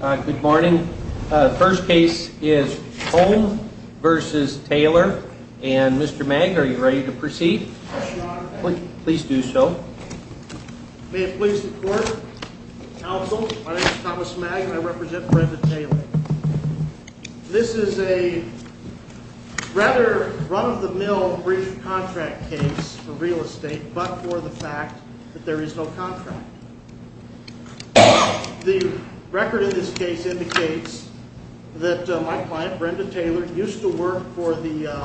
Good morning. The first case is Hoem v. Taylor. And Mr. Magner, are you ready to proceed? Please do so. May it please the court, counsel, my name is Thomas Magner and I represent Brenda Taylor. This is a rather run-of-the-mill brief contract case for real estate, but for the fact that there is no contract. The record in this case indicates that my client, Brenda Taylor, used to work for the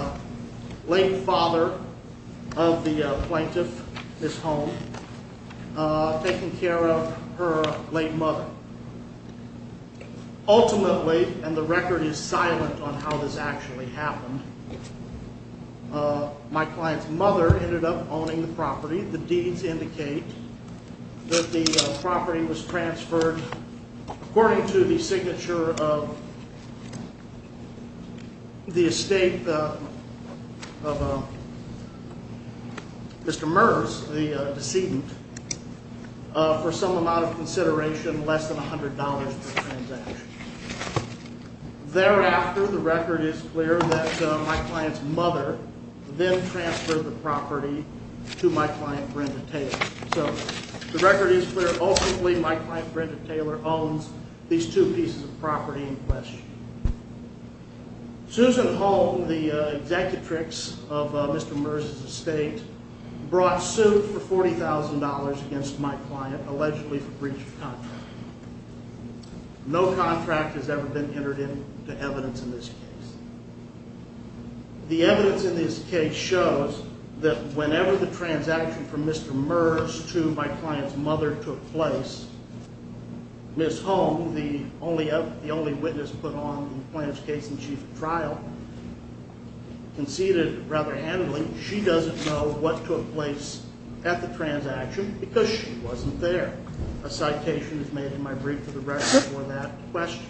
late father of the plaintiff, Ms. Hoem, taking care of her late mother. Ultimately, and the record is silent on how this actually happened, my client's mother ended up owning the property. The deeds indicate that the property was transferred, according to the signature of the estate of Mr. Merz, the decedent, for some amount of consideration less than $100 per transaction. Thereafter, the record is clear that my client's mother then transferred the property to my client, Brenda Taylor. So, the record is clear. Ultimately, my client, Brenda Taylor, owns these two pieces of property in question. Susan Hoem, the executrix of Mr. Merz's estate, brought suit for $40,000 against my client, allegedly for breach of contract. No contract has ever been entered into evidence in this case. The evidence in this case shows that whenever the transaction from Mr. Merz to my client's mother took place, Ms. Hoem, the only witness put on the plaintiff's case in chief of trial, conceded rather handily, that she doesn't know what took place at the transaction because she wasn't there. A citation is made in my brief for the record for that question.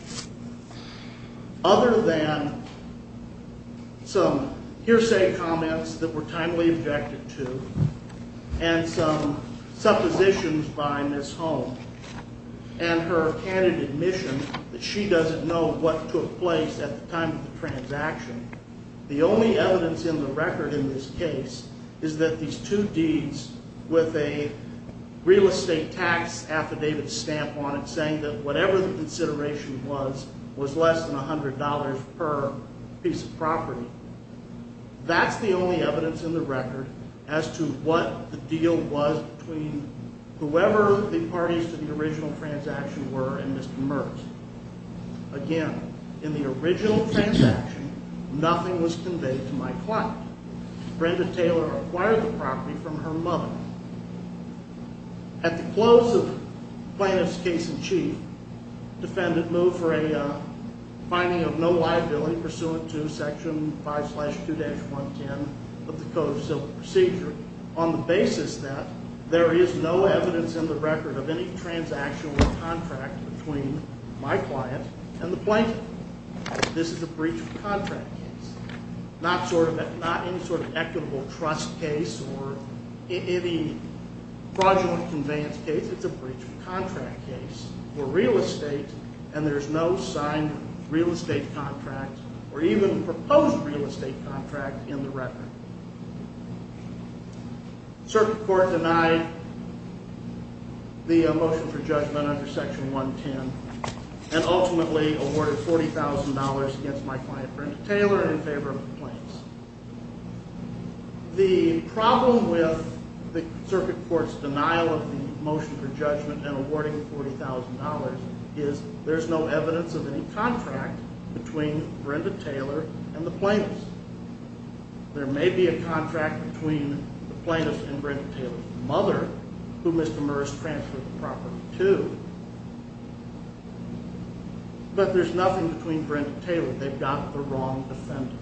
Other than some hearsay comments that were timely objected to, and some suppositions by Ms. Hoem, and her candid admission that she doesn't know what took place at the time of the transaction, the only evidence in the record in this case is that these two deeds with a real estate tax affidavit stamp on it saying that whatever the consideration was, was less than $100 per piece of property. That's the only evidence in the record as to what the deal was between whoever the parties to the original transaction were and Mr. Merz. Again, in the original transaction, nothing was conveyed to my client. Brenda Taylor acquired the property from her mother. At the close of the plaintiff's case in chief, the defendant moved for a finding of no liability pursuant to Section 5-2-110 of the Code of Civil Procedure on the basis that there is no evidence in the record of any transaction or contract between my client and the plaintiff. This is a breach of contract case, not any sort of equitable trust case or any fraudulent conveyance case. It's a breach of contract case for real estate, and there's no signed real estate contract or even proposed real estate contract in the record. Circuit Court denied the motion for judgment under Section 110 and ultimately awarded $40,000 against my client Brenda Taylor in favor of the plaintiffs. The problem with the Circuit Court's denial of the motion for judgment and awarding $40,000 is there's no evidence of any contract between Brenda Taylor and the plaintiffs. There may be a contract between the plaintiff and Brenda Taylor's mother, who Mr. Merz transferred the property to, but there's nothing between Brenda Taylor. They've got the wrong defendant.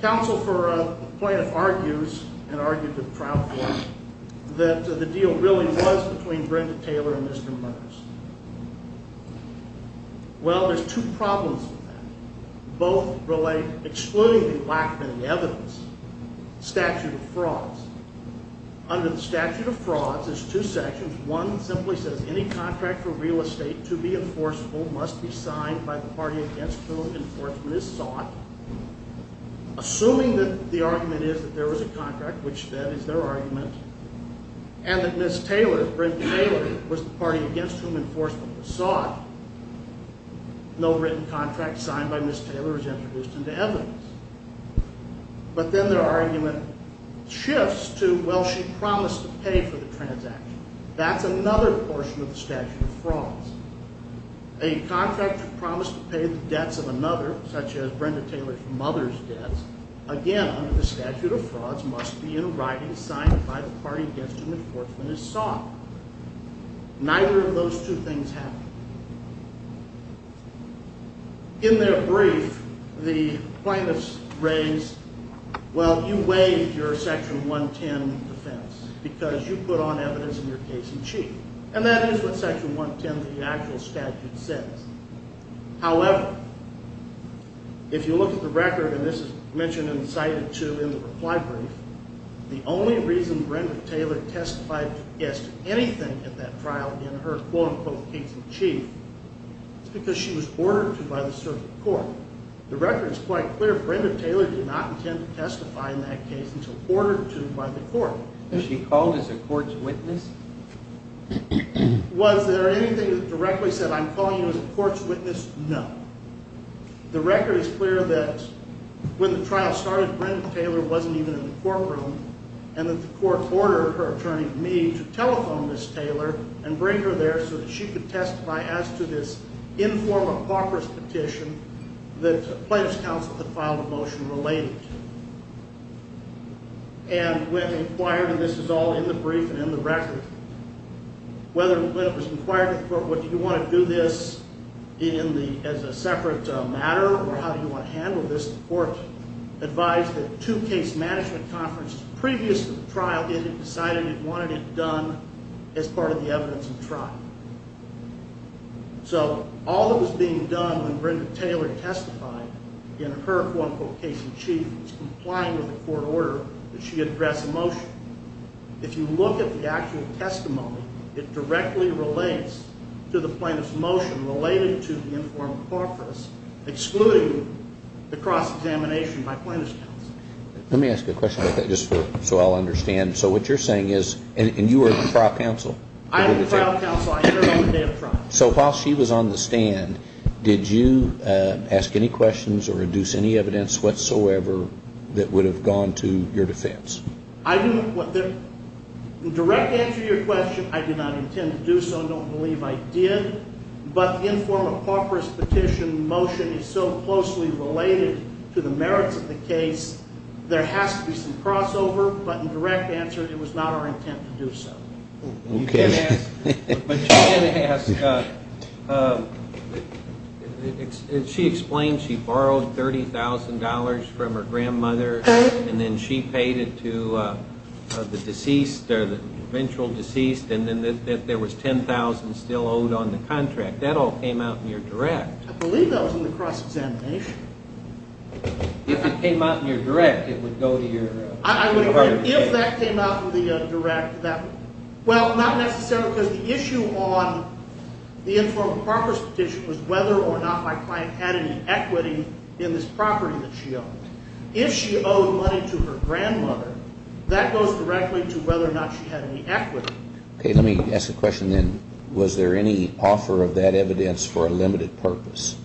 Counsel for the plaintiff argues and argued to the trial court that the deal really was between Brenda Taylor and Mr. Merz. Well, there's two problems with that. Both relate, excluding the lack of any evidence, statute of frauds. Under the statute of frauds, there's two sections. One simply says any contract for real estate to be enforceable must be signed by the party against whom enforcement is sought, assuming that the argument is that there was a contract, which that is their argument, and that Ms. Taylor, Brenda Taylor, was the party against whom enforcement was sought. No written contract signed by Ms. Taylor is introduced into evidence. But then their argument shifts to, well, she promised to pay for the transaction. That's another portion of the statute of frauds. A contract promised to pay the debts of another, such as Brenda Taylor's mother's debts, again, under the statute of frauds, must be in writing signed by the party against whom enforcement is sought. Neither of those two things happen. In their brief, the plaintiff's raised, well, you waived your Section 110 defense because you put on evidence in your case in chief. And that is what Section 110 of the actual statute says. However, if you look at the record, and this is mentioned and cited too in the reply brief, the only reason Brenda Taylor testified against anything at that trial in her quote-unquote case in chief is because she was ordered to by the circuit court. The record is quite clear. Brenda Taylor did not intend to testify in that case until ordered to by the court. Was she called as a court's witness? Was there anything that directly said, I'm calling you as a court's witness? No. The record is clear that when the trial started, Brenda Taylor wasn't even in the courtroom. And that the court ordered her attorney, Meade, to telephone Ms. Taylor and bring her there so that she could testify as to this informal, apocryphal petition that the plaintiff's counsel had filed a motion related to. And when inquired, and this is all in the brief and in the record, when it was inquired to the court, well, do you want to do this as a separate matter, or how do you want to handle this? The court advised that two case management conferences previous to the trial, it had decided it wanted it done as part of the evidence of the trial. So all that was being done when Brenda Taylor testified in her, quote, unquote, case in chief was complying with the court order that she address a motion. If you look at the actual testimony, it directly relates to the plaintiff's motion related to the informal apocryphal, excluding the cross-examination by plaintiff's counsel. Let me ask you a question about that just so I'll understand. So what you're saying is, and you are the trial counsel? I am the trial counsel. I heard on the day of trial. So while she was on the stand, did you ask any questions or induce any evidence whatsoever that would have gone to your defense? I didn't. In direct answer to your question, I did not intend to do so. I don't believe I did. But the informal apocryphal petition motion is so closely related to the merits of the case, there has to be some crossover. But in direct answer, it was not our intent to do so. Okay. But you can ask, as she explained, she borrowed $30,000 from her grandmother, and then she paid it to the deceased or the eventual deceased, and then there was $10,000 still owed on the contract. That all came out in your direct. I believe that was in the cross-examination. If it came out in your direct, it would go to your heart of the earth. If that came out in the direct, that would. Well, not necessarily, because the issue on the informal apocryphal petition was whether or not my client had any equity in this property that she owned. If she owed money to her grandmother, that goes directly to whether or not she had any equity. Okay. Let me ask a question then. Was there any offer of that evidence for a limited purpose?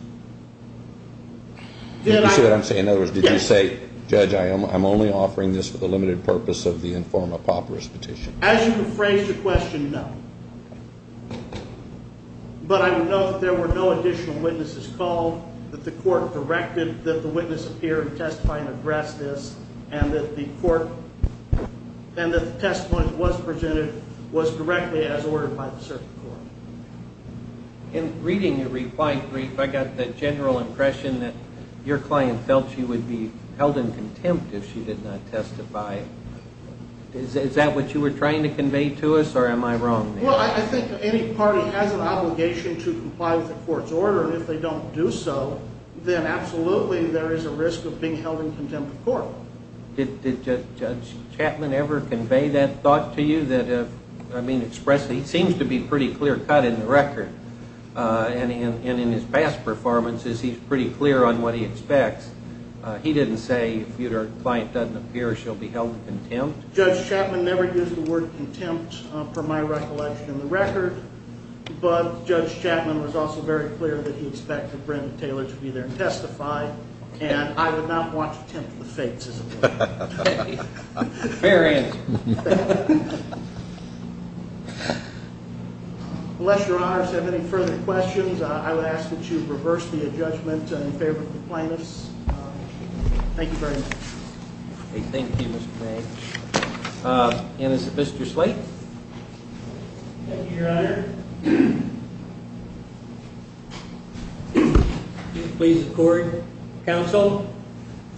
Did you see what I'm saying? In other words, did you say, Judge, I'm only offering this for the limited purpose of the informal apocryphal petition? As you phrased the question, no. But I would note that there were no additional witnesses called, that the court directed that the witness appear and testify and address this, and that the testimony that was presented was directly as ordered by the circuit court. In reading your reply brief, I got the general impression that your client felt she would be held in contempt if she did not testify. Is that what you were trying to convey to us, or am I wrong? Well, I think any party has an obligation to comply with the court's order, and if they don't do so, then absolutely there is a risk of being held in contempt of court. Well, did Judge Chapman ever convey that thought to you, that, I mean, expressly? He seems to be pretty clear cut in the record, and in his past performances, he's pretty clear on what he expects. He didn't say, if your client doesn't appear, she'll be held in contempt. Judge Chapman never used the word contempt, per my recollection in the record, but Judge Chapman was also very clear that he expected Brenda Taylor to be there and testify, and I would not want to tempt the fates, as it were. Fair answer. Unless your honors have any further questions, I would ask that you reverse the adjudgment in favor of the plaintiffs. Thank you very much. Thank you, Mr. May. And is Mr. Slate? Thank you, your honor. Please accord, counsel.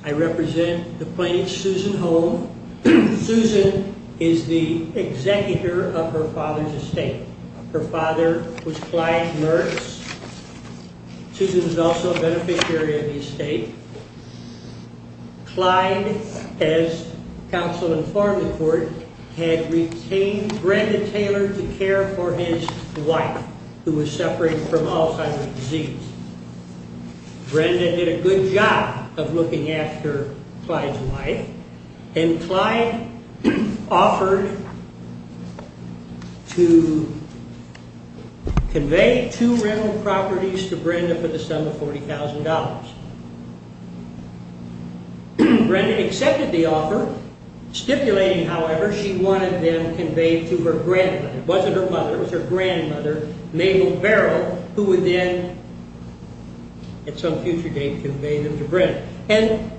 I represent the plaintiff, Susan Holm. Susan is the executor of her father's estate. Her father was Clyde Mertz. Susan is also a beneficiary of the estate. Clyde, as counsel informed the court, had retained Brenda Taylor to care for his wife, who was separated from Alzheimer's disease. Brenda did a good job of looking after Clyde's wife, and Clyde offered to convey two rental properties to Brenda for the sum of $40,000. Brenda accepted the offer, stipulating, however, she wanted them conveyed to her grandmother. It wasn't her mother. It was her grandmother, Mabel Barrow, who would then, at some future date, convey them to Brenda. And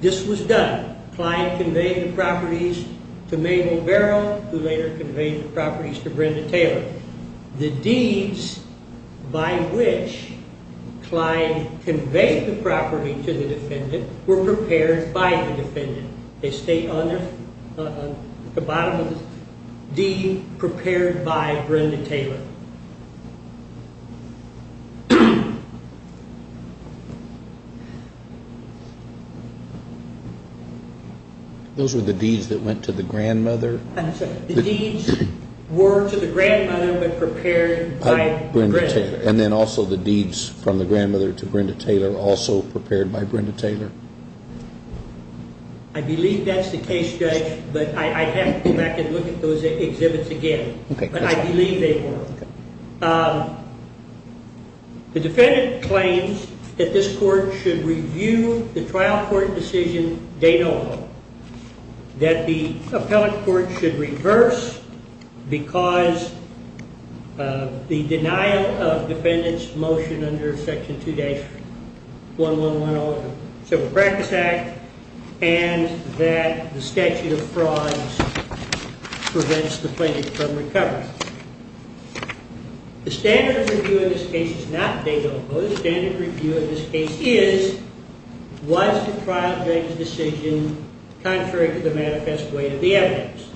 this was done. Clyde conveyed the properties to Mabel Barrow, who later conveyed the properties to Brenda Taylor. The deeds by which Clyde conveyed the property to the defendant were prepared by the defendant. They state on the bottom of this deed, prepared by Brenda Taylor. Those were the deeds that went to the grandmother? I'm sorry. The deeds were to the grandmother, but prepared by Brenda Taylor. I believe that's the case, Judge, but I have to go back and look at those exhibits again. But I believe they were. The defendant claims that this court should review the trial court decision de novo, that the appellate court should reverse, because the denial of the deed by the defendant motion under section 2-1110 of the Civil Practice Act, and that the statute of frauds prevents the plaintiff from recovery. The standard of review in this case is not de novo. The standard review in this case is, was the trial judge's decision contrary to the manifest weight of the evidence?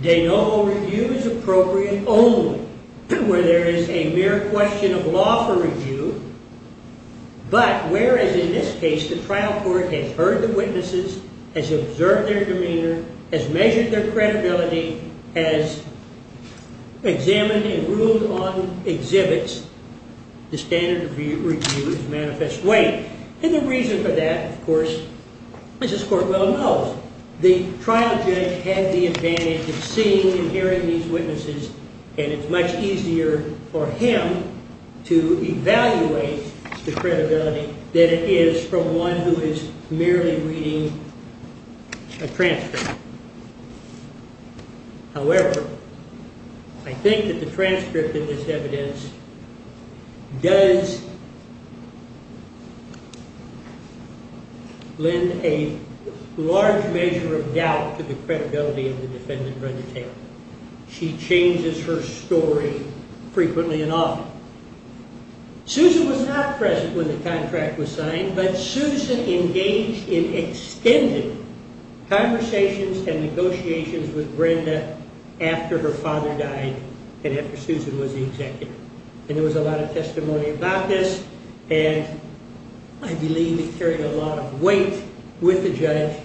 De novo review is appropriate only where there is a mere question of lawful review, but whereas in this case the trial court has heard the witnesses, has observed their demeanor, has measured their credibility, has examined and ruled on exhibits, the standard review is manifest weight. And the reason for that, of course, Mrs. Courtwell knows. The trial judge had the advantage of seeing and hearing these witnesses, and it's much easier for him to evaluate the credibility than it is for one who is merely reading a transcript. However, I think that the transcript in this evidence does lend a large measure of doubt to the credibility of the defendant. She changes her story frequently and often. Susan was not present when the contract was signed, but Susan engaged in extended conversations and negotiations with Brenda after her father died and after Susan was the executive. And there was a lot of testimony about this, and I believe it carried a lot of weight with the judge,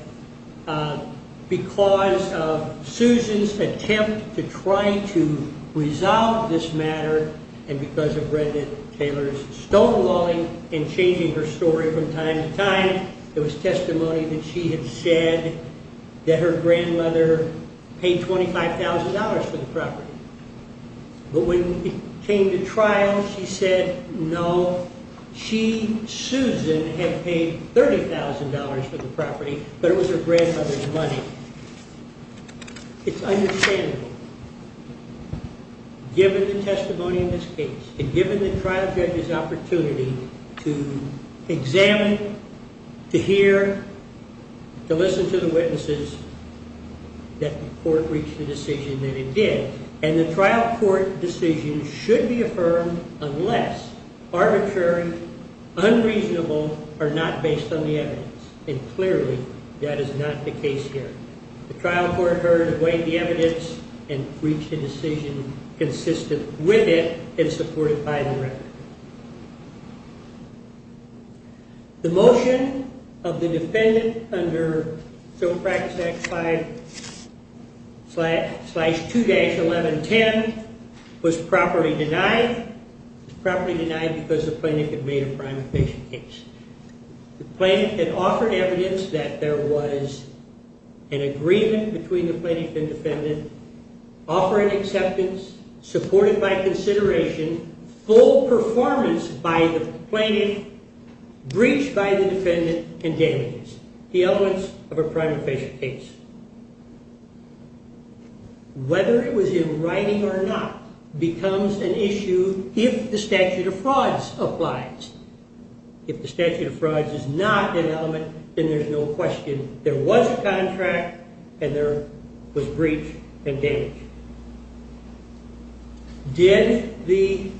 because of Susan's attempt to try to resolve this matter, and because of Brenda Taylor's stonewalling and changing her story from time to time, there was testimony that she had said that her grandmother paid $25,000 for the property. But when it came to trial, she said, no, she, Susan, had paid $30,000 for the property, but it was her grandfather's money. It's understandable, given the testimony in this case, and given the trial judge's opportunity to examine, to hear, to listen to the witnesses, that the court reached a decision that it did. And the trial court decision should be affirmed unless arbitrary, unreasonable, or not based on the evidence. And clearly, that is not the case here. The trial court heard, weighed the evidence, and reached a decision consistent with it and supported by the record. The motion of the defendant under Civil Practice Act 5-2-1110 was properly denied. It was properly denied because the plaintiff had made a primary patient case. The plaintiff had offered evidence that there was an agreement between the plaintiff and defendant, offering acceptance, supported by consideration, full performance by the plaintiff, breach by the defendant, and damages. The evidence of a primary patient case. Whether it was in writing or not becomes an issue if the statute of frauds applies. If the statute of frauds is not an element, then there's no question there was a contract and there was breach and damage. Did the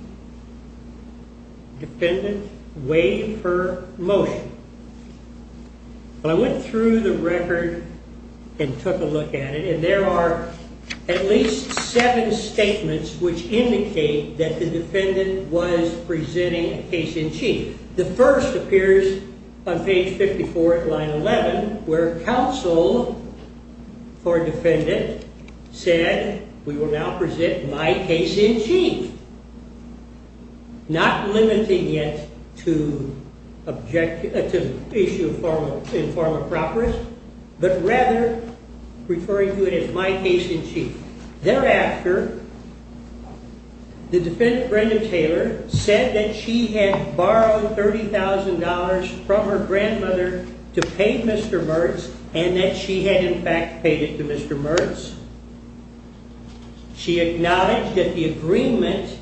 defendant waive her motion? I went through the record and took a look at it, and there are at least seven statements which indicate that the defendant was presenting a case in chief. The first appears on page 54 at line 11, where counsel for defendant said, We will now present my case in chief. Not limiting it to issue in form of properties, but rather referring to it as my case in chief. Thereafter, the defendant, Brenda Taylor, said that she had borrowed $30,000 from her grandmother to pay Mr. Mertz, and that she had, in fact, paid it to Mr. Mertz. She acknowledged that the agreement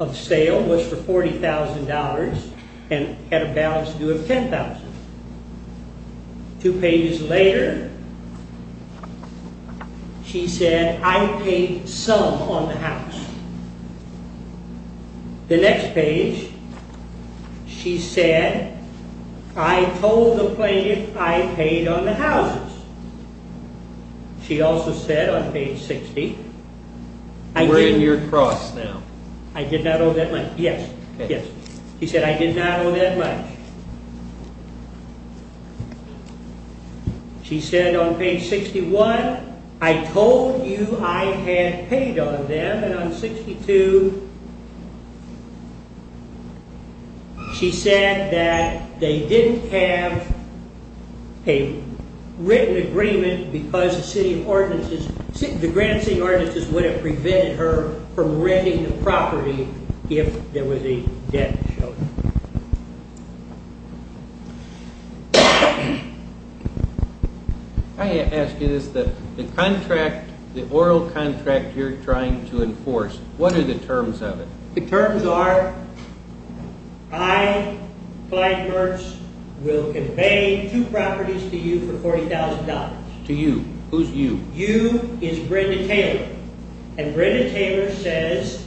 of sale was for $40,000 and had a balance due of $10,000. Two pages later, she said, I paid some on the house. The next page, she said, I told the plaintiff I paid on the houses. She also said on page 60, I did not owe that much. Yes, she said I did not owe that much. She said on page 61, I told you I had paid on them, and on 62, she said that they didn't have a written agreement because the city ordinances, the grant seeing ordinances would have prevented her from renting the property if there was a debt to show. I ask you this, the contract, the oral contract you're trying to enforce, what are the terms of it? The terms are, I, Clyde Mertz, will convey two properties to you for $40,000. To you? Who's you? You is Brenda Taylor. And Brenda Taylor says,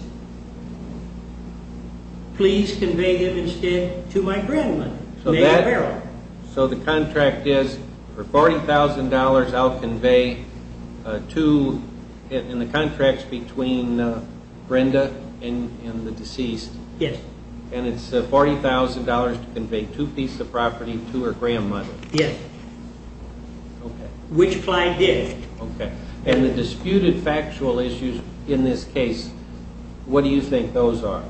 please convey them instead to my grandmother, Mary Farrell. So the contract is for $40,000, I'll convey two, and the contract's between Brenda and the deceased. Yes. And it's $40,000 to convey two pieces of property to her grandmother. Yes. Okay. Which Clyde did. Okay. And the disputed factual issues in this case, what do you think those are?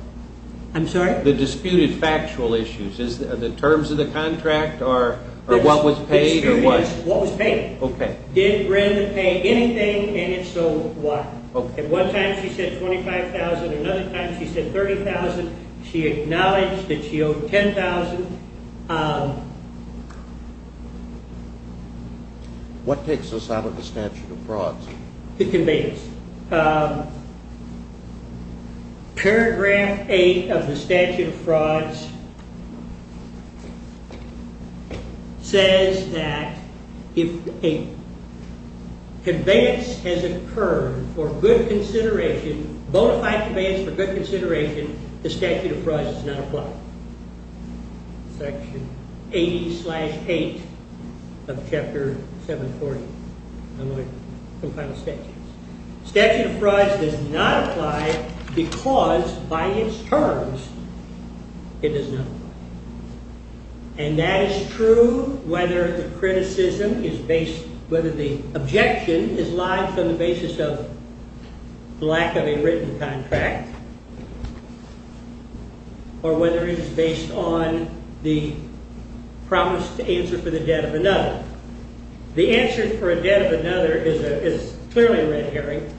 I'm sorry? The disputed factual issues. Are the terms of the contract or what was paid or what? The dispute is what was paid. Okay. Did Brenda pay anything, and if so, what? Okay. At one time she said $25,000, another time she said $30,000. She acknowledged that she owed $10,000. What takes us out of the statute of frauds? The conveyance. Paragraph 8 of the statute of frauds says that if a conveyance has occurred for good consideration, bona fide conveyance for good consideration, the statute of frauds does not apply. Section 80-8 of Chapter 740. I'm going to compile the statutes. Statute of frauds does not apply because by its terms it does not apply. And that is true whether the criticism is based, whether the objection is lied to on the basis of lack of a written contract or whether it is based on the promise to answer for the debt of another. The answer for a debt of another is clearly a red herring.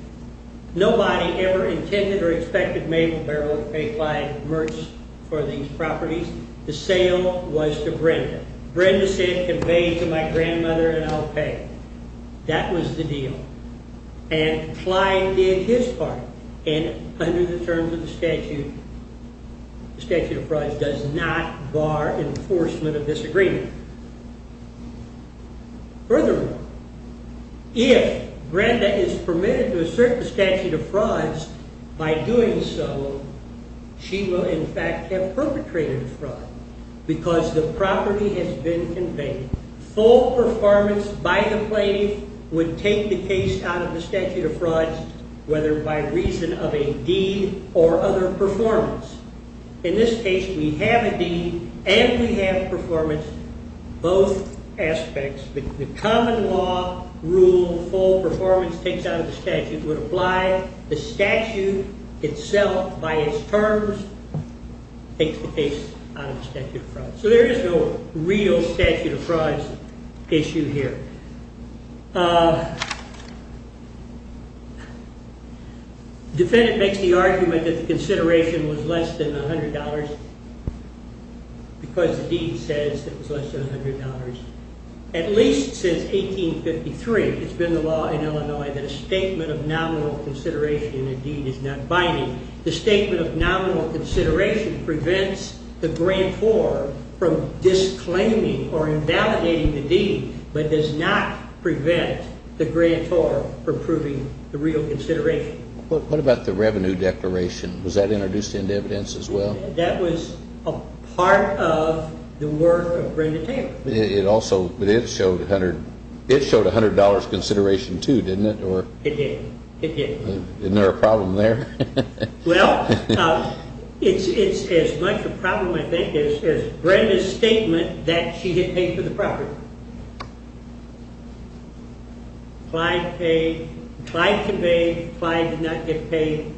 Nobody ever intended or expected Mabel Barrow to pay Clyde Mertz for these properties. The sale was to Brenda. Brenda said it conveyed to my grandmother and I'll pay. That was the deal. And Clyde did his part. And under the terms of the statute, the statute of frauds does not bar enforcement of disagreement. Furthermore, if Brenda is permitted to assert the statute of frauds, by doing so, she will in fact have perpetrated a fraud. Because the property has been conveyed. Full performance by the plaintiff would take the case out of the statute of frauds, whether by reason of a deed or other performance. In this case, we have a deed and we have performance, both aspects. The common law rule full performance takes out of the statute would apply. The statute itself, by its terms, takes the case out of the statute of frauds. So there is no real statute of frauds issue here. Defendant makes the argument that the consideration was less than $100 because the deed says it was less than $100. At least since 1853, it's been the law in Illinois that a statement of nominal consideration in a deed is not binding. The statement of nominal consideration prevents the grantor from disclaiming or invalidating the deed, but does not prevent the grantor from proving the real consideration. What about the revenue declaration? Was that introduced into evidence as well? That was a part of the work of Brenda Taylor. It also showed $100 consideration too, didn't it? It did. Isn't there a problem there? Well, it's as much a problem, I think, as Brenda's statement that she had paid for the property. Clyde paid. Clyde conveyed. Clyde did not get paid.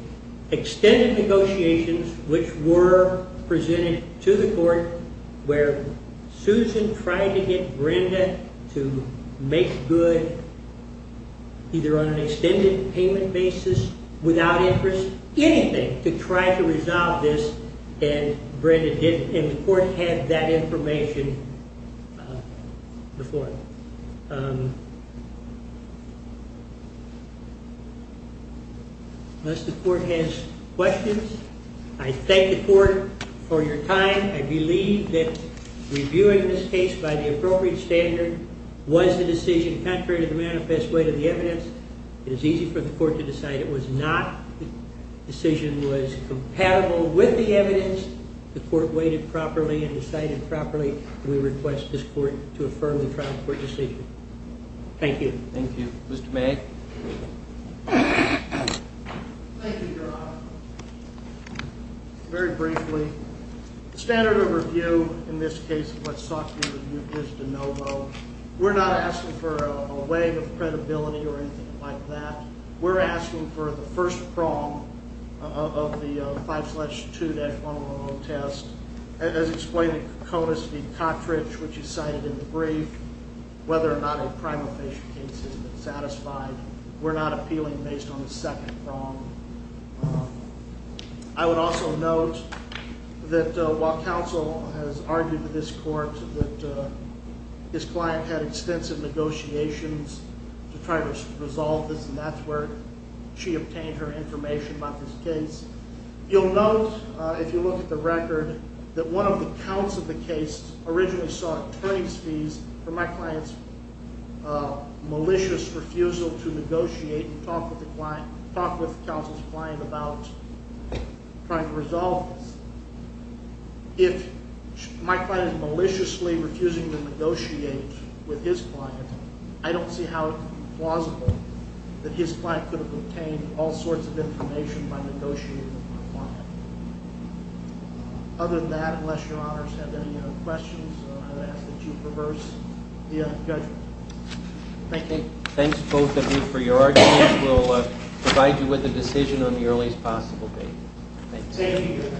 Extended negotiations, which were presented to the court, where Susan tried to get Brenda to make good, either on an extended payment basis, without interest, anything, to try to resolve this, and Brenda didn't. And the court had that information before. So unless the court has questions, I thank the court for your time. I believe that reviewing this case by the appropriate standard was the decision, contrary to the manifest weight of the evidence. It is easy for the court to decide it was not. The decision was compatible with the evidence. The court weighed it properly and decided properly. We request this court to affirm the trial court decision. Thank you. Thank you. Mr. May? Thank you, Your Honor. Very briefly, the standard of review in this case of what sought to be reviewed is de novo. We're not asking for a wave of credibility or anything like that. We're asking for the first prong of the 5-2-111 test. As explained in Conis v. Cottridge, which is cited in the brief, whether or not a primal patient case has been satisfied, we're not appealing based on the second prong. I would also note that while counsel has argued with this court that this client had extensive negotiations to try to resolve this, and that's where she obtained her information about this case, you'll note, if you look at the record, that one of the counts of the case originally sought attorney's fees for my client's malicious refusal to negotiate and talk with counsel's client about trying to resolve this. If my client is maliciously refusing to negotiate with his client, I don't see how it could be plausible that his client could have obtained all sorts of information by negotiating with my client. Other than that, unless Your Honors have any other questions, I would ask that you reverse the judgment. Thank you. Thanks, both of you, for your arguments. We'll provide you with a decision on the earliest possible date. Thank you.